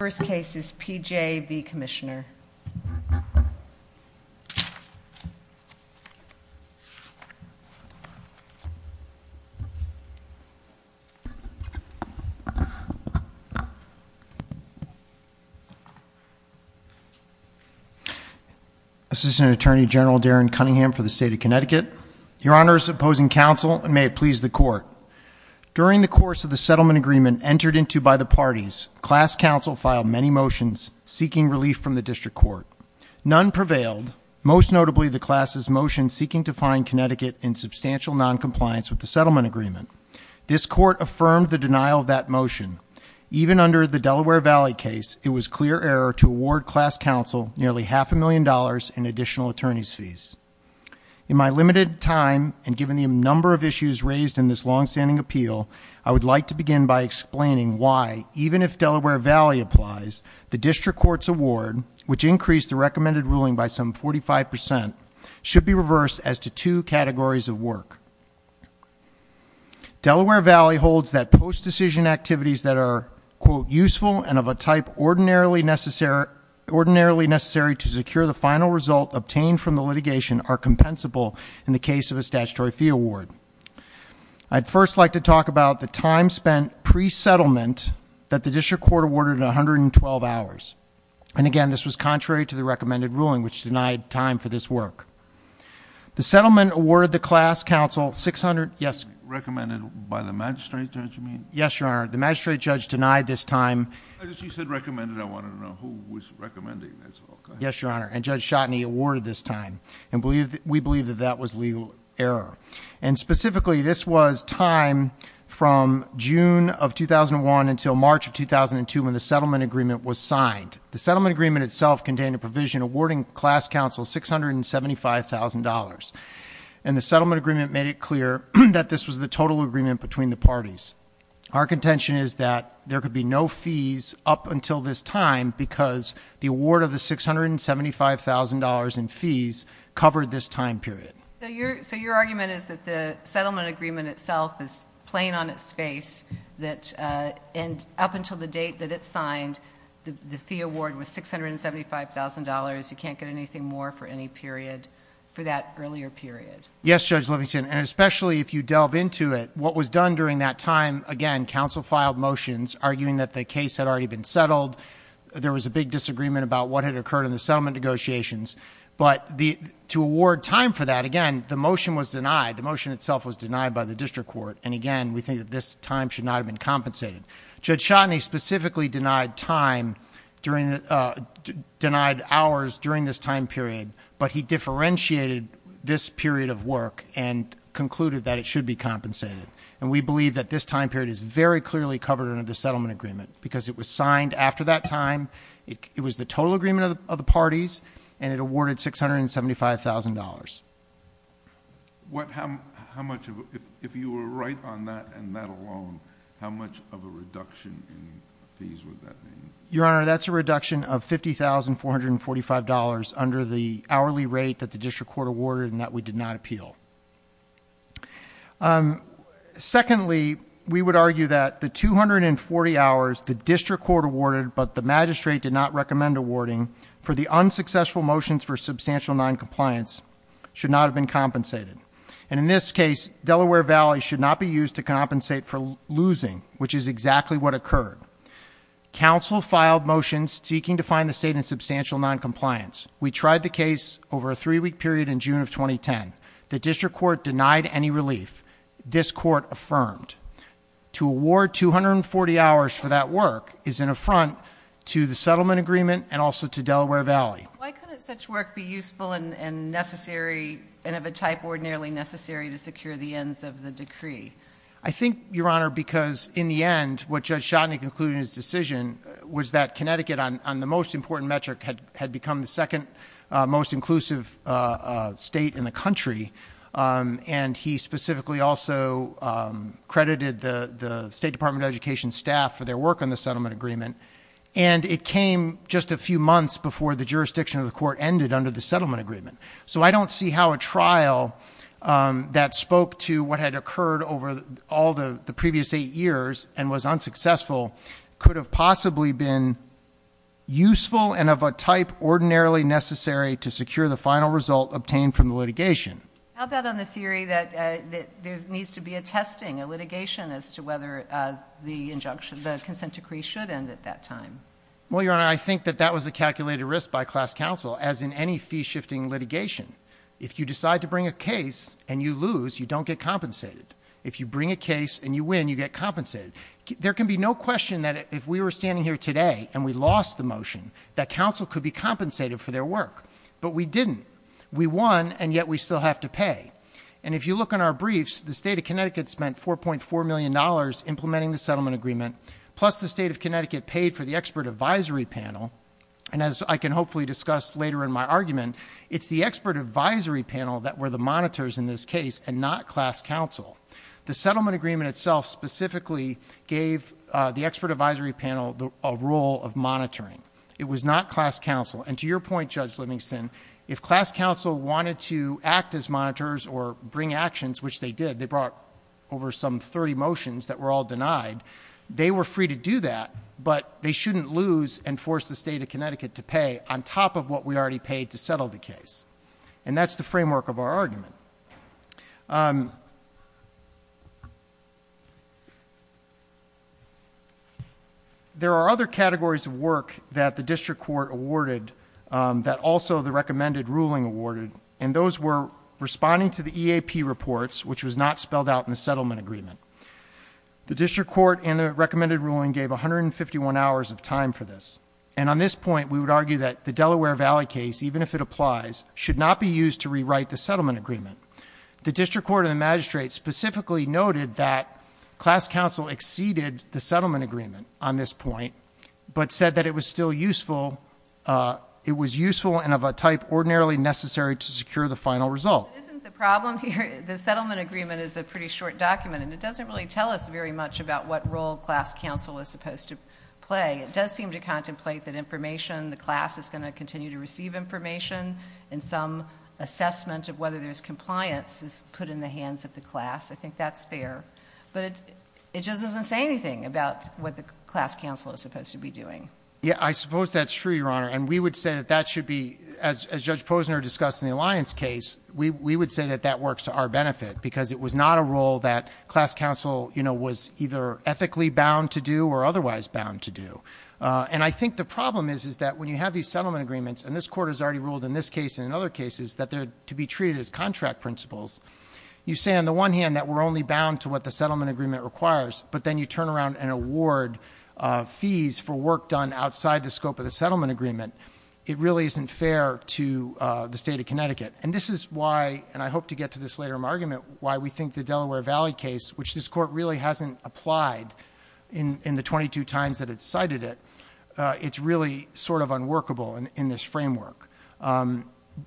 The first case is P.J. v. Commissioner. Assistant Attorney General Darren Cunningham for the State of Connecticut. Your Honor is opposing counsel and may it please the Court. During the course of the settlement agreement entered into by the parties, class counsel filed many motions seeking relief from the district court. None prevailed, most notably the class's motion seeking to find Connecticut in substantial noncompliance with the settlement agreement. This court affirmed the denial of that motion. Even under the Delaware Valley case, it was clear error to award class counsel nearly half a million dollars in additional attorney's fees. In my limited time and given the number of issues raised in this long-standing appeal, I would like to begin by explaining why, even if Delaware Valley applies, the district court's award, which increased the recommended ruling by some 45%, should be reversed as to two categories of work. Delaware Valley holds that post-decision activities that are, quote, in the case of a statutory fee award. I'd first like to talk about the time spent pre-settlement that the district court awarded 112 hours. And again, this was contrary to the recommended ruling, which denied time for this work. The settlement awarded the class counsel 600, yes? Recommended by the magistrate judge, you mean? Yes, Your Honor. The magistrate judge denied this time. I wanted to know who was recommending this. Yes, Your Honor. And Judge Shotney awarded this time. And we believe that that was legal error. And specifically, this was time from June of 2001 until March of 2002 when the settlement agreement was signed. The settlement agreement itself contained a provision awarding class counsel $675,000. And the settlement agreement made it clear that this was the total agreement between the parties. Our contention is that there could be no fees up until this time, because the award of the $675,000 in fees covered this time period. So your argument is that the settlement agreement itself is playing on its face, that up until the date that it's signed, the fee award was $675,000. You can't get anything more for any period, for that earlier period. Yes, Judge Livingston. And especially if you delve into it, what was done during that time, again, the case had already been settled. There was a big disagreement about what had occurred in the settlement negotiations. But to award time for that, again, the motion was denied. The motion itself was denied by the district court. And again, we think that this time should not have been compensated. Judge Shotney specifically denied hours during this time period, but he differentiated this period of work and concluded that it should be compensated. And we believe that this time period is very clearly covered under the settlement agreement, because it was signed after that time, it was the total agreement of the parties, and it awarded $675,000. If you were right on that and that alone, how much of a reduction in fees would that be? Your Honor, that's a reduction of $50,445 under the hourly rate that the district court awarded and that we did not appeal. Secondly, we would argue that the 240 hours the district court awarded but the magistrate did not recommend awarding for the unsuccessful motions for substantial noncompliance should not have been compensated. And in this case, Delaware Valley should not be used to compensate for losing, which is exactly what occurred. Counsel filed motions seeking to find the state in substantial noncompliance. We tried the case over a three-week period in June of 2010. The district court denied any relief. This court affirmed. To award 240 hours for that work is an affront to the settlement agreement and also to Delaware Valley. Why couldn't such work be useful and necessary and of a type ordinarily necessary to secure the ends of the decree? I think, Your Honor, because in the end, what Judge Chodny concluded in his decision was that Connecticut, on the most important metric, had become the second most inclusive state in the country. And he specifically also credited the State Department of Education staff for their work on the settlement agreement. And it came just a few months before the jurisdiction of the court ended under the settlement agreement. So I don't see how a trial that spoke to what had occurred over all the previous eight years and was unsuccessful could have possibly been useful and of a type ordinarily necessary to secure the final result obtained from the litigation. How about on the theory that there needs to be a testing, a litigation, as to whether the consent decree should end at that time? Well, Your Honor, I think that that was a calculated risk by class counsel, as in any fee-shifting litigation. If you decide to bring a case and you lose, you don't get compensated. If you bring a case and you win, you get compensated. There can be no question that if we were standing here today and we lost the motion, that counsel could be compensated for their work. But we didn't. We won, and yet we still have to pay. And if you look on our briefs, the State of Connecticut spent $4.4 million implementing the settlement agreement, plus the State of Connecticut paid for the expert advisory panel. And as I can hopefully discuss later in my argument, it's the expert advisory panel that were the monitors in this case and not class counsel. The settlement agreement itself specifically gave the expert advisory panel a role of monitoring. It was not class counsel. And to your point, Judge Livingston, if class counsel wanted to act as monitors or bring actions, which they did, they brought over some 30 motions that were all denied, they were free to do that, but they shouldn't lose and force the State of Connecticut to pay on top of what we already paid to settle the case. And that's the framework of our argument. There are other categories of work that the district court awarded that also the recommended ruling awarded, and those were responding to the EAP reports, which was not spelled out in the settlement agreement. The district court and the recommended ruling gave 151 hours of time for this. And on this point, we would argue that the Delaware Valley case, even if it applies, should not be used to rewrite the settlement agreement. The district court and the magistrate specifically noted that class counsel exceeded the settlement agreement on this point, but said that it was still useful, it was useful and of a type ordinarily necessary to secure the final result. Isn't the problem here, the settlement agreement is a pretty short document, and it doesn't really tell us very much about what role class counsel is supposed to play. It does seem to contemplate that information, the class is going to continue to receive information, and some assessment of whether there's compliance is put in the hands of the class. I think that's fair. But it just doesn't say anything about what the class counsel is supposed to be doing. Yeah, I suppose that's true, Your Honor, and we would say that that should be, as Judge Posner discussed in the Alliance case, we would say that that works to our benefit, because it was not a role that class counsel was either ethically bound to do or otherwise bound to do. And I think the problem is that when you have these settlement agreements, and this court has already ruled in this case and in other cases that they're to be treated as contract principles, you say on the one hand that we're only bound to what the settlement agreement requires. But then you turn around and award fees for work done outside the scope of the settlement agreement. It really isn't fair to the state of Connecticut. And this is why, and I hope to get to this later in my argument, why we think the Delaware Valley case, which this court really hasn't applied in the 22 times that it's cited it, it's really sort of unworkable in this framework.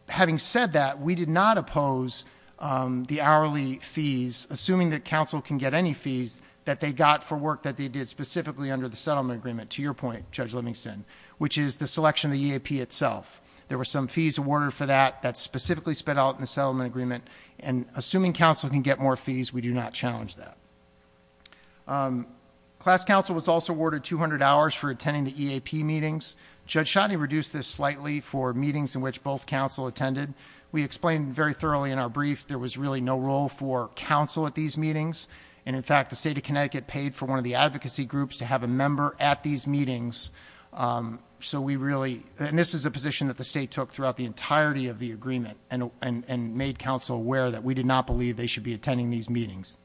Having said that, we did not oppose the hourly fees, assuming that counsel can get any fees that they got for work that they did specifically under the settlement agreement, to your point, Judge Livingston, which is the selection of the EAP itself. There were some fees awarded for that, that specifically sped out in the settlement agreement. And assuming counsel can get more fees, we do not challenge that. Class counsel was also awarded 200 hours for attending the EAP meetings. Judge Shotney reduced this slightly for meetings in which both counsel attended. We explained very thoroughly in our brief, there was really no role for counsel at these meetings. And in fact, the state of Connecticut paid for one of the advocacy groups to have a member at these meetings. So we really, and this is a position that the state took throughout the entirety of the agreement and made counsel aware that we did not believe they should be attending these meetings.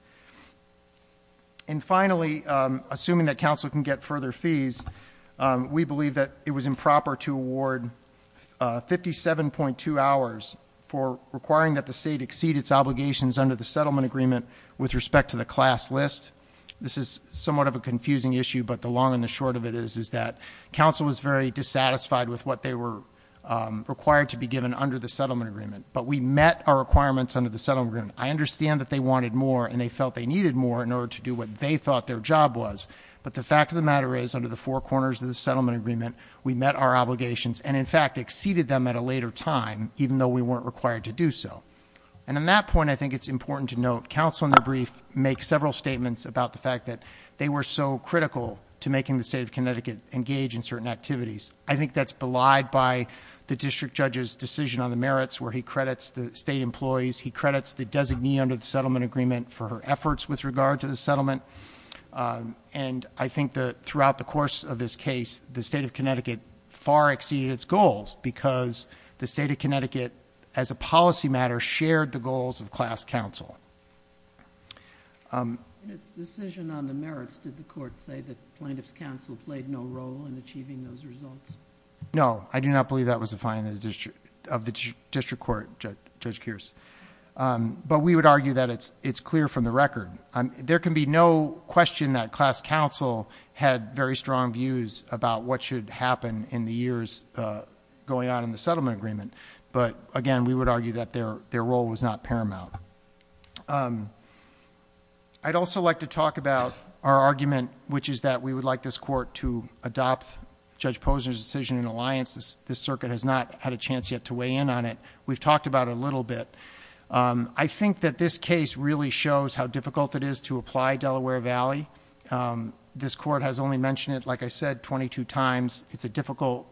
And finally, assuming that counsel can get further fees, we believe that it was improper to award 57.2 hours for requiring that the state exceed its obligations under the settlement agreement with respect to the class list. This is somewhat of a confusing issue, but the long and the short of it is that counsel was very dissatisfied with what they were required to be given under the settlement agreement, but we met our requirements under the settlement agreement. I understand that they wanted more and they felt they needed more in order to do what they thought their job was. But the fact of the matter is, under the four corners of the settlement agreement, we met our obligations and in fact exceeded them at a later time, even though we weren't required to do so. And on that point, I think it's important to note, counsel in the brief makes several statements about the fact that they were so critical to making the state of Connecticut engage in certain activities. I think that's belied by the district judge's decision on the merits where he credits the state employees. He credits the designee under the settlement agreement for her efforts with regard to the settlement. And I think that throughout the course of this case, the state of Connecticut far exceeded its goals because the state of Connecticut, as a policy matter, shared the goals of class counsel. In its decision on the merits, did the court say that plaintiff's counsel played no role in achieving those results? No, I do not believe that was a fine of the district court, Judge Kears. But we would argue that it's clear from the record. There can be no question that class counsel had very strong views about what should happen in the years going on in the settlement agreement, but again, we would argue that their role was not paramount. I'd also like to talk about our argument, which is that we would like this court to adopt Judge Posner's decision in alliance. This circuit has not had a chance yet to weigh in on it. We've talked about it a little bit. I think that this case really shows how difficult it is to apply Delaware Valley. This court has only mentioned it, like I said, 22 times. It's a difficult,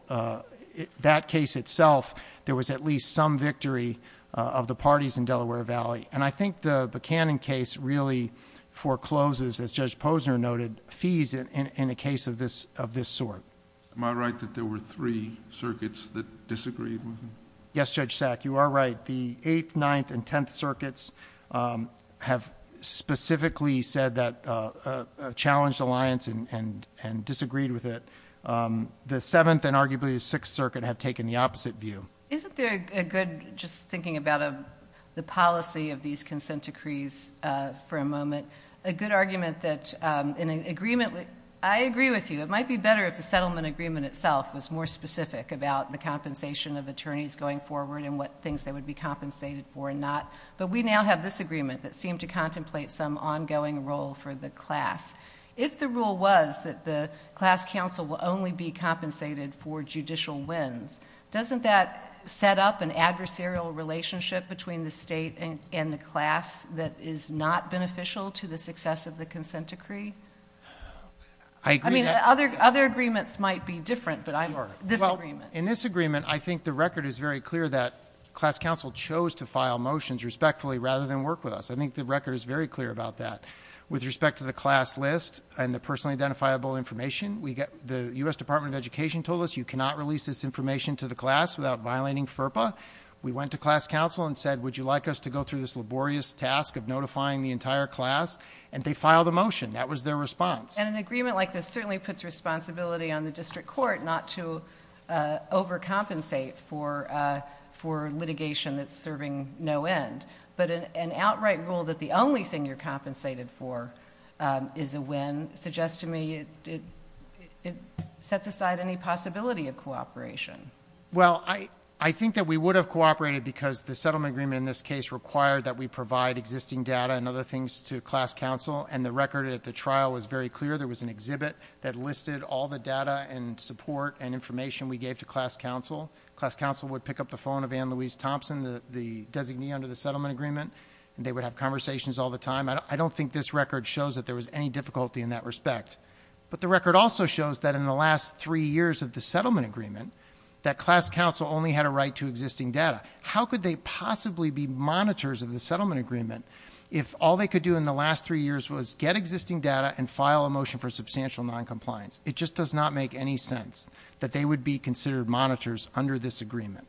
that case itself, there was at least some victory of the parties in Delaware Valley. And I think the Buchanan case really forecloses, as Judge Posner noted, fees in a case of this sort. Am I right that there were three circuits that disagreed with him? Yes, Judge Sack, you are right. But the 8th, 9th, and 10th circuits have specifically said that challenged alliance and disagreed with it. The 7th and arguably the 6th circuit have taken the opposite view. Isn't there a good, just thinking about the policy of these consent decrees for a moment, a good argument that in an agreement, I agree with you, it might be better if the settlement agreement itself was more specific about the compensation of attorneys going forward and what things they would be compensated for and not. But we now have this agreement that seemed to contemplate some ongoing role for the class. If the rule was that the class council will only be compensated for judicial wins, doesn't that set up an adversarial relationship between the state and the class that is not beneficial to the success of the consent decree? I agree. I mean, other agreements might be different, but I'm, this agreement. In this agreement, I think the record is very clear that class council chose to file motions respectfully rather than work with us. I think the record is very clear about that. With respect to the class list and the personally identifiable information, the US Department of Education told us you cannot release this information to the class without violating FERPA. We went to class council and said, would you like us to go through this laborious task of notifying the entire class? And they filed a motion. That was their response. And an agreement like this certainly puts responsibility on the district court not to overcompensate for litigation that's serving no end, but an outright rule that the only thing you're compensated for is a win suggests to me it sets aside any possibility of cooperation. Well, I think that we would have cooperated because the settlement agreement in this case required that we provide existing data and other things to class council, and the record at the trial was very clear. There was an exhibit that listed all the data and support and information we gave to class council. Class council would pick up the phone of Anne Louise Thompson, the designee under the settlement agreement, and they would have conversations all the time. I don't think this record shows that there was any difficulty in that respect. But the record also shows that in the last three years of the settlement agreement, that class council only had a right to existing data. How could they possibly be monitors of the settlement agreement if all they could do in the last three years was get existing data and file a motion for substantial non-compliance? It just does not make any sense that they would be considered monitors under this agreement.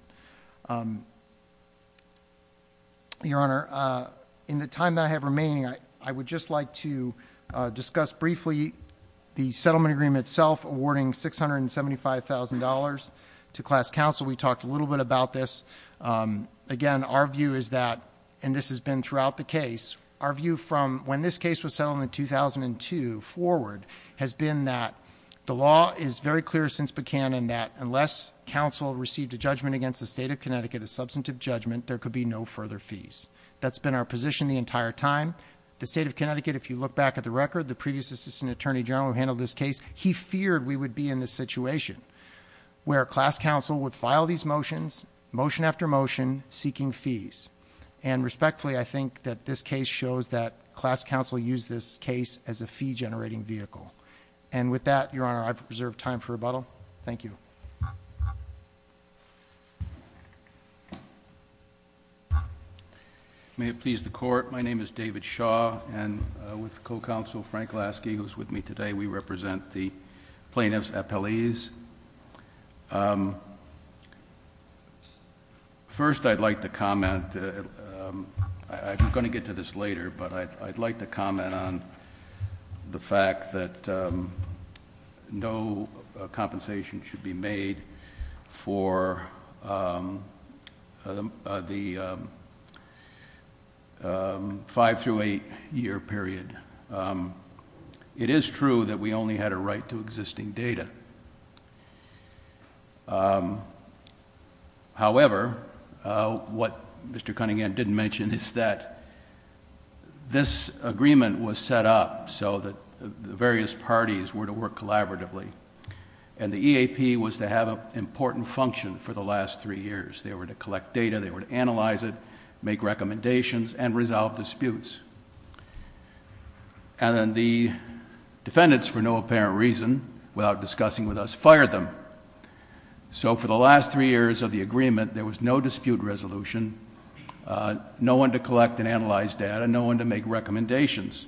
Your Honor, in the time that I have remaining, I would just like to discuss briefly the settlement agreement itself awarding $675,000 to class council. We talked a little bit about this. Again, our view is that, and this has been throughout the case, our view from when this case was settled in 2002 forward has been that the law is very clear since Buchanan that unless council received a judgment against the state of Connecticut, a substantive judgment, there could be no further fees. That's been our position the entire time. The state of Connecticut, if you look back at the record, the previous assistant attorney general who handled this case, he feared we would be in this situation. Where class council would file these motions, motion after motion, seeking fees. And respectfully, I think that this case shows that class council used this case as a fee generating vehicle. And with that, your honor, I've reserved time for rebuttal. Thank you. May it please the court. My name is David Shaw and with the co-counsel, Frank Lasky, who's with me today. We represent the plaintiff's appellees. First, I'd like to comment, I'm going to get to this later, but I'd like to comment on the fact that no compensation should be made for the five through eight year period. It is true that we only had a right to existing data. However, what Mr. Cunningham didn't mention is that this agreement was set up so that the various parties were to work collaboratively. And the EAP was to have an important function for the last three years. They were to collect data, they were to analyze it, make recommendations, and resolve disputes. And then the defendants, for no apparent reason, without discussing with us, fired them. So for the last three years of the agreement, there was no dispute resolution, no one to collect and analyze data, no one to make recommendations.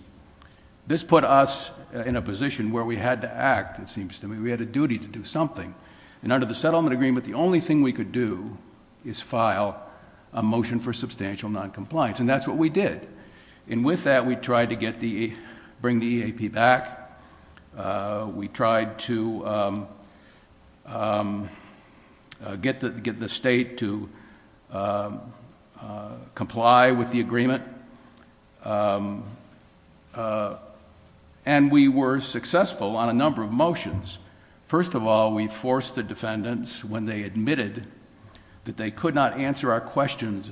This put us in a position where we had to act, it seems to me, we had a duty to do something. And under the settlement agreement, the only thing we could do is file a motion for substantial non-compliance, and that's what we did. And with that, we tried to bring the EAP back, we tried to get the state to comply with the agreement. And we were successful on a number of motions. First of all, we forced the defendants, when they admitted that they could not answer our questions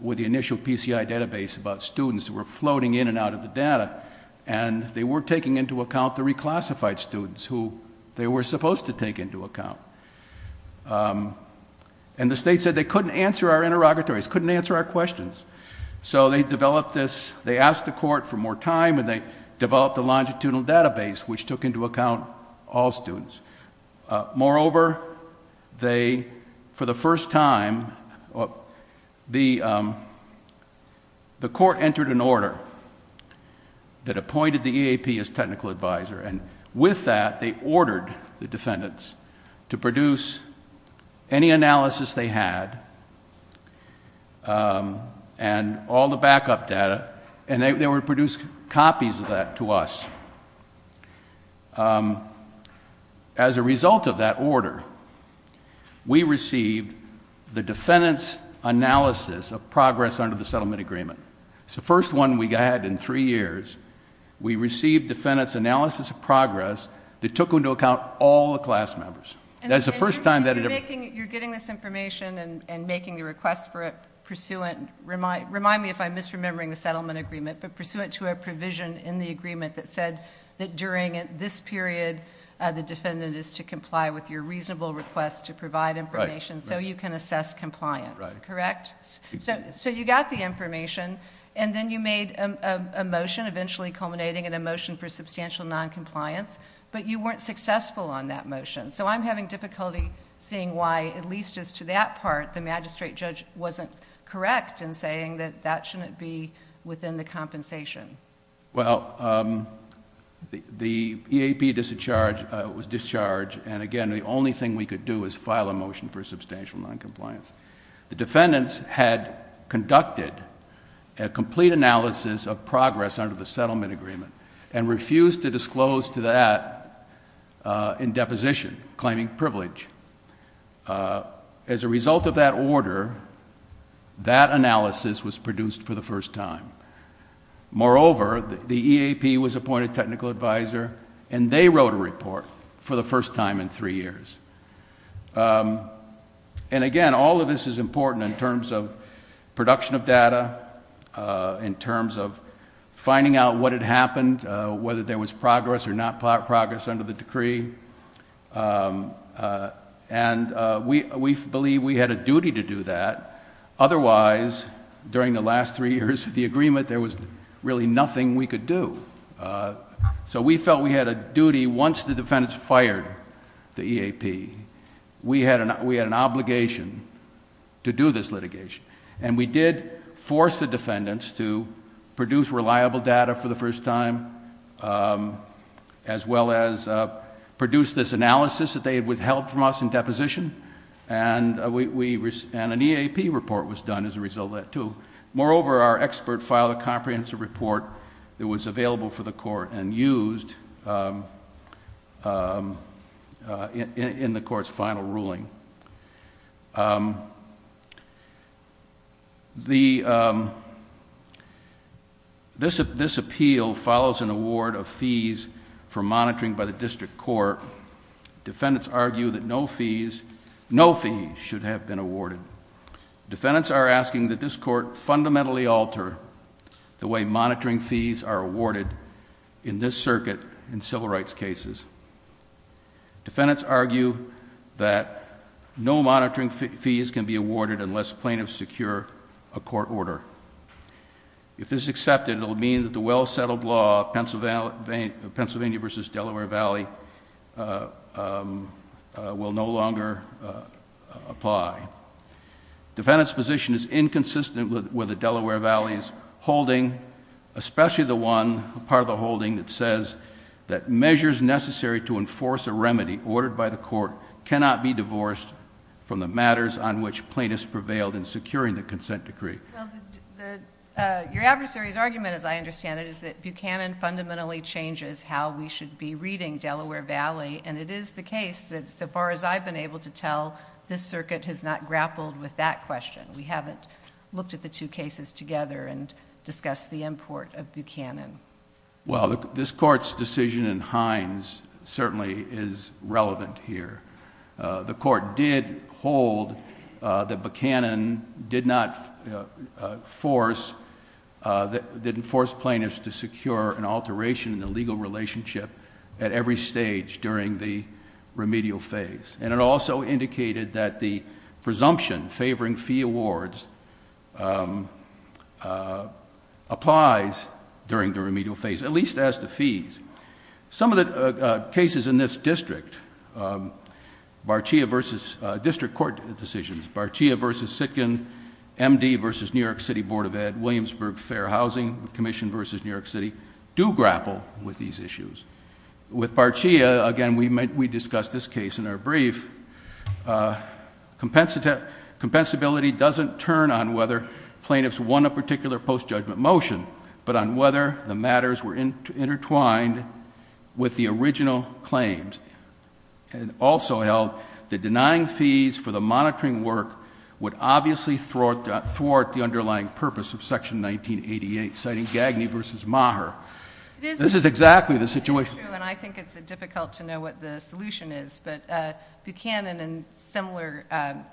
with the initial PCI database about students who were floating in and out of the data, and they weren't taking into account the reclassified students who they were supposed to take into account. And the state said they couldn't answer our interrogatories, couldn't answer our questions. So they developed this, they asked the court for more time, and they developed a longitudinal database which took into account all students. Moreover, they, for the first time, the court entered an order that appointed the EAP as technical advisor, and with that, they ordered the defendants to produce any analysis they had, and all the backup data, and they would produce copies of that to us. As a result of that order, we received the defendant's analysis of progress under the settlement agreement. It's the first one we had in three years. We received defendant's analysis of progress that took into account all the class members. That's the first time that it ever... And you're getting this information and making the request for it pursuant, remind me if I'm misremembering the settlement agreement, but pursuant to a provision in the agreement that said that during this period, the defendant is to comply with your reasonable request to provide information so you can assess compliance, correct? So you got the information, and then you made a motion, eventually culminating in a motion for substantial non-compliance, but you weren't successful on that motion. So I'm having difficulty seeing why, at least as to that part, the magistrate judge wasn't correct in saying that that shouldn't be within the compensation. Well, the EAP was discharged, and again, the only thing we could do is file a motion for substantial non-compliance. The defendants had conducted a complete analysis of progress under the settlement agreement, and refused to disclose to that in deposition, claiming privilege. As a result of that order, that analysis was produced for the first time. Moreover, the EAP was appointed technical advisor, and they wrote a report for the first time in three years. And again, all of this is important in terms of production of data, in terms of finding out what had happened, whether there was progress or not progress under the decree. And we believe we had a duty to do that. Otherwise, during the last three years of the agreement, there was really nothing we could do. So we felt we had a duty, once the defendants fired the EAP, we had an obligation to do this litigation. And we did force the defendants to produce reliable data for the first time, as well as produce this analysis that they had withheld from us in deposition. And an EAP report was done as a result of that, too. Moreover, our expert filed a comprehensive report that was available for the court and used in the court's final ruling. This appeal follows an award of fees for monitoring by the district court. Defendants argue that no fees should have been awarded. Defendants are asking that this court fundamentally alter the way monitoring fees are awarded in this circuit in civil rights cases. Defendants argue that no monitoring fees can be awarded unless plaintiffs secure a court order. If this is accepted, it will mean that the well settled law of Pennsylvania versus Delaware Valley will no longer apply. Defendant's position is inconsistent with the Delaware Valley's holding, especially the one part of the holding that says that measures necessary to enforce a remedy ordered by the court cannot be divorced from the matters on which plaintiffs prevailed in securing the consent decree. Your adversary's argument, as I understand it, is that Buchanan fundamentally changes how we should be reading Delaware Valley. And it is the case that so far as I've been able to tell, this circuit has not grappled with that question. We haven't looked at the two cases together and discussed the import of Buchanan. Well, this court's decision in Hines certainly is relevant here. The court did hold that Buchanan did not force, didn't force plaintiffs to secure an alteration in the legal relationship at every stage during the remedial phase. And it also indicated that the presumption favoring fee awards applies during the remedial phase, at least as the fees. Some of the cases in this district, district court decisions, Barchia versus Sitkin, MD versus New York City Board of Ed, Williamsburg Fair Housing Commission versus New York City, do grapple with these issues. With Barchia, again, we discussed this case in our brief. Compensability doesn't turn on whether plaintiffs won a particular post-judgment motion, but on whether the matters were intertwined with the original claims. And it also held that denying fees for the monitoring work would obviously thwart the underlying purpose of section 1988, citing Gagney versus Maher. This is exactly the situation. It is true, and I think it's difficult to know what the solution is. But Buchanan, in similar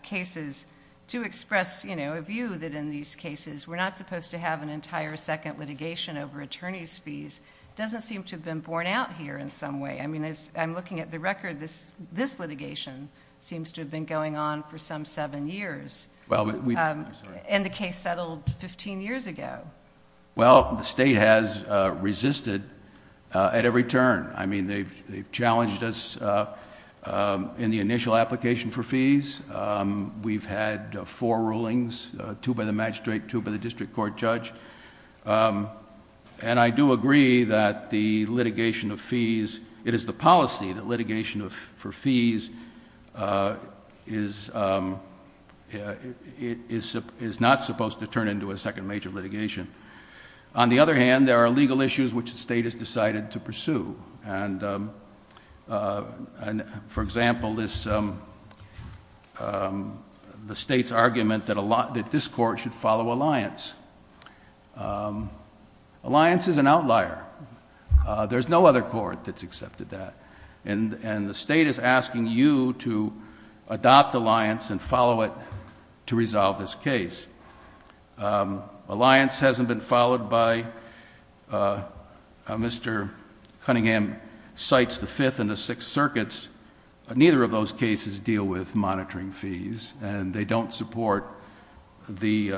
cases, to express a view that in these cases, we're not supposed to have an entire second litigation over attorney's fees, doesn't seem to have been borne out here in some way. I mean, I'm looking at the record, this litigation seems to have been going on for some seven years. And the case settled 15 years ago. Well, the state has resisted at every turn. I mean, they've challenged us in the initial application for fees. We've had four rulings, two by the magistrate, two by the district court judge. And I do agree that the litigation of fees, it is the policy that litigation for fees is not supposed to turn into a second major litigation. On the other hand, there are legal issues which the state has decided to pursue. And for example, the state's argument that this court should follow alliance. Alliance is an outlier. There's no other court that's accepted that. And the state is asking you to adopt alliance and follow it to resolve this case. Alliance hasn't been followed by Mr. Cunningham cites the fifth and the sixth circuits. Neither of those cases deal with monitoring fees. And they don't support the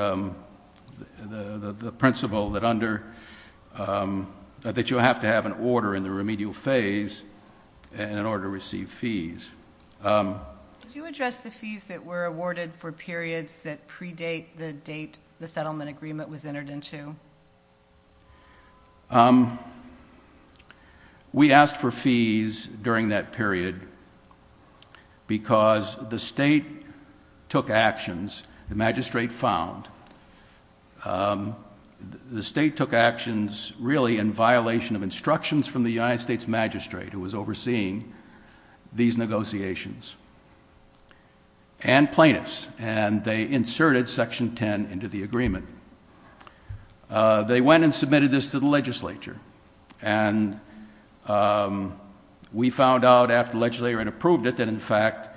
principle that under, that you have to have an order in the remedial phase in order to receive fees. Did you address the fees that were awarded for periods that predate the date the settlement agreement was entered into? We asked for fees during that period because the state took actions, the magistrate found, the state took actions really in violation of instructions from the United States magistrate who was overseeing these negotiations and plaintiffs. And they inserted section ten into the agreement. They went and submitted this to the legislature. And we found out after the legislature had approved it that in fact,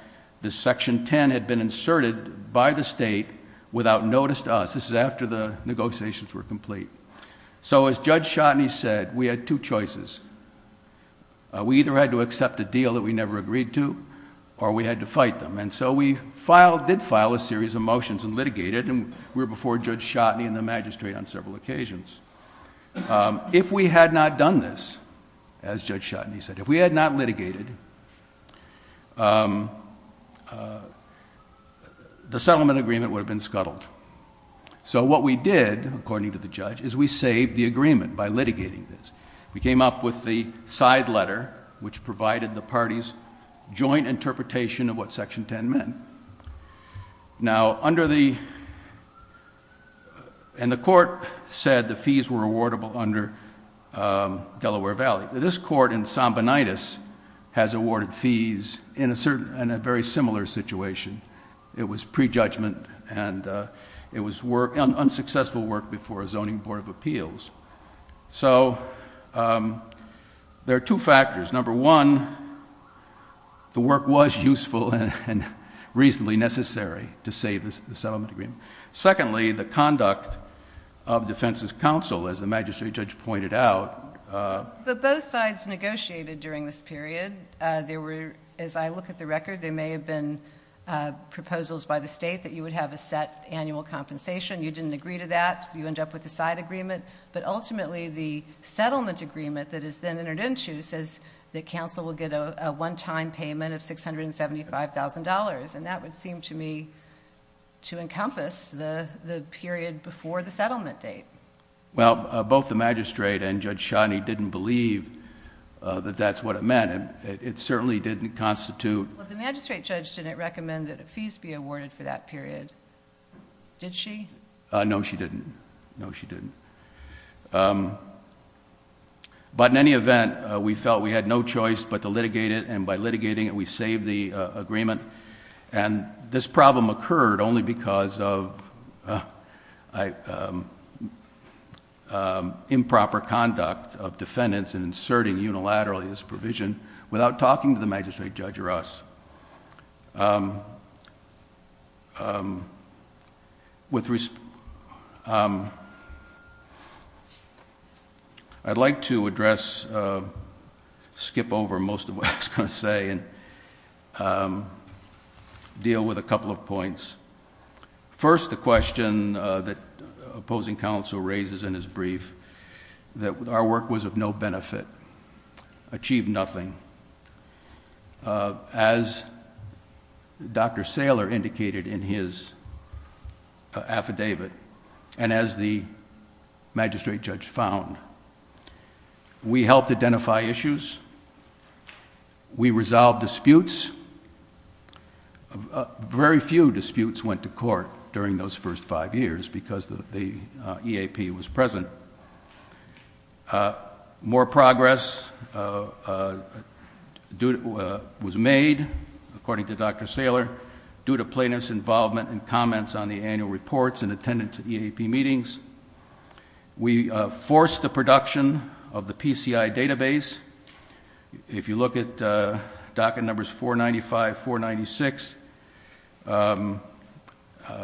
this section ten had been inserted by the state without notice to us. This is after the negotiations were complete. So as Judge Shotteny said, we had two choices. We either had to accept a deal that we never agreed to or we had to fight them. And so we did file a series of motions and litigated and we were before Judge Shotteny and the magistrate on several occasions. If we had not done this, as Judge Shotteny said, if we had not litigated, the settlement agreement would have been scuttled. So what we did, according to the judge, is we saved the agreement by litigating this. We came up with the side letter, which provided the parties joint interpretation of what section ten meant. Now under the, and the court said the fees were awardable under Delaware Valley. This court in Sambonitis has awarded fees in a very similar situation. It was prejudgment and it was unsuccessful work before a zoning board of appeals. So there are two factors. Number one, the work was useful and reasonably necessary to save the settlement agreement. Secondly, the conduct of defense's counsel, as the magistrate judge pointed out. But both sides negotiated during this period. There were, as I look at the record, there may have been proposals by the state that you would have a set annual compensation. You didn't agree to that, so you end up with a side agreement. But ultimately, the settlement agreement that is then entered into says that counsel will get a one time payment of $675,000. And that would seem to me to encompass the period before the settlement date. Well, both the magistrate and Judge Shonny didn't believe that that's what it meant. It certainly didn't constitute- Well, the magistrate judge didn't recommend that fees be awarded for that period. Did she? No, she didn't. No, she didn't. But in any event, we felt we had no choice but to litigate it. And by litigating it, we saved the agreement. And this problem occurred only because of improper conduct of defendants in inserting unilaterally this provision without talking to the magistrate judge or us. I'd like to address, skip over most of what I was going to say. And deal with a couple of points. First, the question that opposing counsel raises in his brief, that our work was of no benefit, achieved nothing. As Dr. Saylor indicated in his affidavit, and as the magistrate judge found, we helped identify issues. We resolved disputes. Very few disputes went to court during those first five years because the EAP was present. More progress was made, according to Dr. Saylor, due to plaintiff's involvement and comments on the annual reports and attendance at EAP meetings. We forced the production of the PCI database. If you look at docket numbers 495, 496,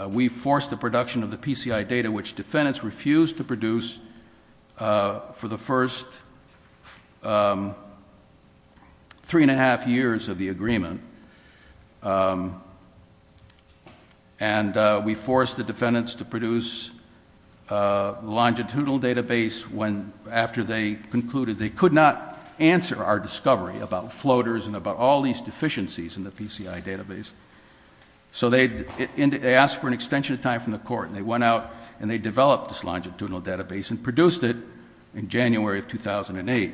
we forced the production of the PCI data which defendants refused to produce for the first three and a half years of the agreement. And we forced the defendants to produce a longitudinal database after they concluded they could not answer our discovery about floaters and about all these deficiencies in the PCI database. So they asked for an extension of time from the court and they went out and they developed this longitudinal database and produced it in January of 2008.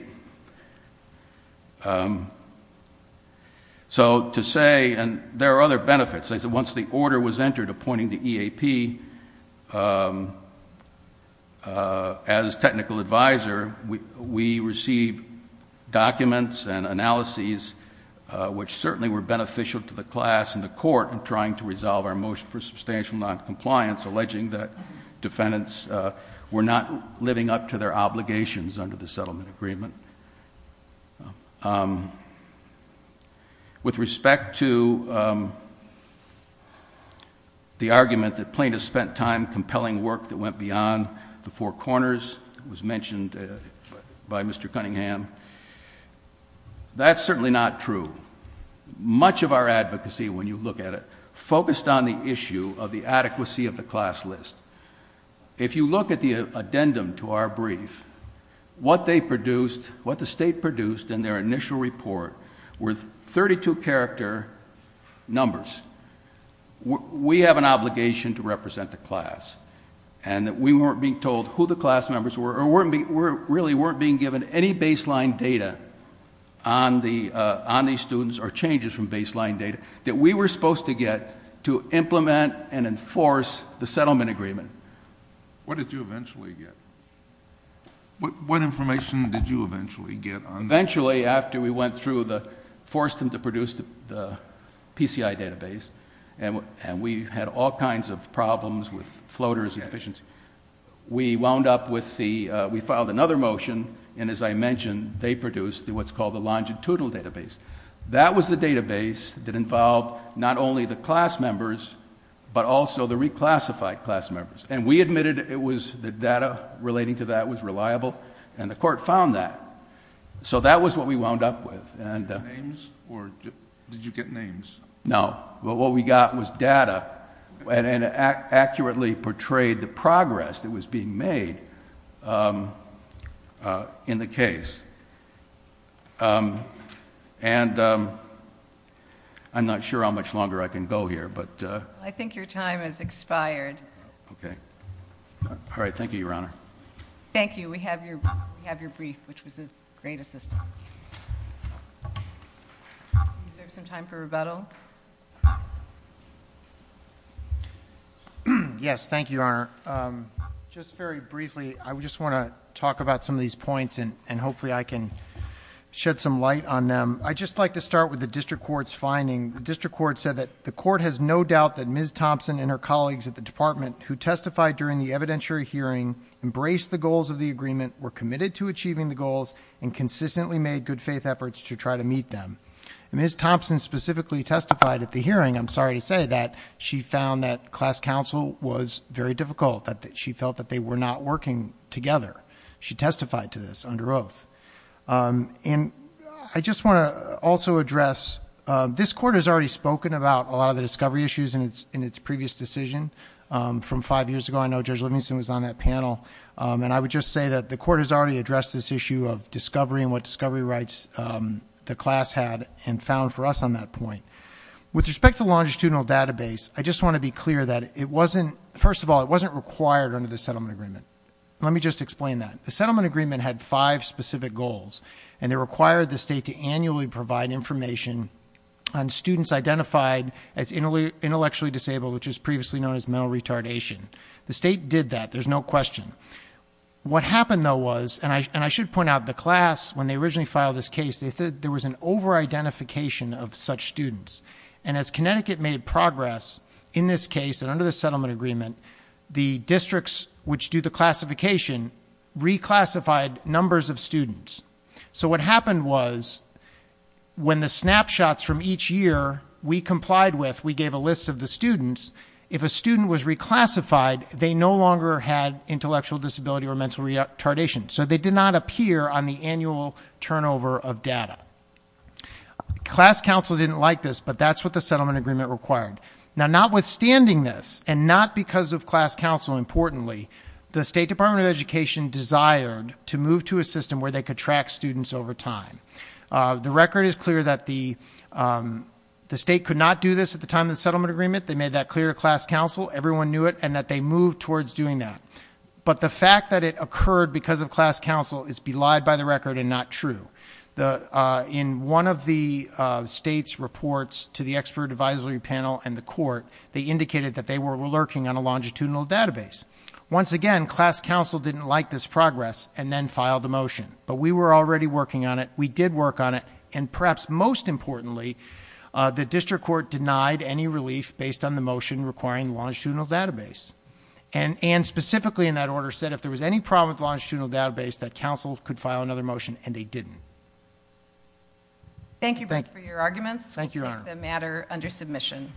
So to say, and there are other benefits, once the order was entered appointing the EAP as technical advisor, we received documents and analyses which certainly were beneficial to the class and the court in trying to resolve our motion for substantial noncompliance, alleging that defendants were not living up to their obligations under the settlement agreement. With respect to the argument that plaintiffs spent time compelling work that went beyond the Four Corners, it was mentioned by Mr. Cunningham, that's certainly not true. Much of our advocacy, when you look at it, focused on the issue of the adequacy of the class list. If you look at the addendum to our brief, what they produced, what the state produced in their initial report were 32 character numbers. We have an obligation to represent the class. And we weren't being told who the class members were, or really weren't being given any baseline data on these students or to implement and enforce the settlement agreement. What did you eventually get? What information did you eventually get on that? Eventually, after we went through the, forced them to produce the PCI database, and we had all kinds of problems with floaters and efficiency. We wound up with the, we filed another motion, and as I mentioned, they produced what's called the longitudinal database. That was the database that involved not only the class members, but also the reclassified class members. And we admitted it was the data relating to that was reliable, and the court found that. So that was what we wound up with, and- Names, or did you get names? No, but what we got was data, and it accurately portrayed the progress that was being made in the case. And I'm not sure how much longer I can go here, but- I think your time has expired. Okay. All right, thank you, Your Honor. Thank you, we have your brief, which was a great assistance. Is there some time for rebuttal? Yes, thank you, Your Honor. Just very briefly, I just want to talk about some of these points, and hopefully I can shed some light on them. I'd just like to start with the district court's finding. The district court said that the court has no doubt that Ms. Thompson and her colleagues at the department who testified during the evidentiary hearing, embraced the goals of the agreement, were committed to achieving the goals, and consistently made good faith efforts to try to meet them. Ms. Thompson specifically testified at the hearing, I'm sorry to say that, she found that class counsel was very difficult. That she felt that they were not working together. She testified to this under oath. And I just want to also address, this court has already spoken about a lot of the discovery issues in its previous decision from five years ago. And I would just say that the court has already addressed this issue of discovery and what discovery rights the class had and found for us on that point. With respect to longitudinal database, I just want to be clear that it wasn't, first of all, it wasn't required under the settlement agreement. Let me just explain that. The settlement agreement had five specific goals, and they required the state to annually provide information on students identified as intellectually disabled, which is previously known as mental retardation. The state did that, there's no question. What happened, though, was, and I should point out, the class, when they originally filed this case, they said there was an over-identification of such students. And as Connecticut made progress in this case, and under the settlement agreement, the districts which do the classification reclassified numbers of students. So what happened was, when the snapshots from each year we complied with, we gave a list of the students, if a student was reclassified, they no longer had intellectual disability or mental retardation. So they did not appear on the annual turnover of data. Class council didn't like this, but that's what the settlement agreement required. Now notwithstanding this, and not because of class council importantly, the State Department of Education desired to move to a system where they could track students over time. The record is clear that the state could not do this at the time of the settlement agreement. They made that clear to class council, everyone knew it, and that they moved towards doing that. But the fact that it occurred because of class council is belied by the record and not true. In one of the state's reports to the expert advisory panel and the court, they indicated that they were lurking on a longitudinal database. Once again, class council didn't like this progress and then filed a motion. But we were already working on it, we did work on it, and perhaps most importantly, the district court denied any relief based on the motion requiring longitudinal database. And specifically in that order said if there was any problem with longitudinal database that council could file another motion and they didn't. Thank you both for your arguments. We'll take the matter under submission.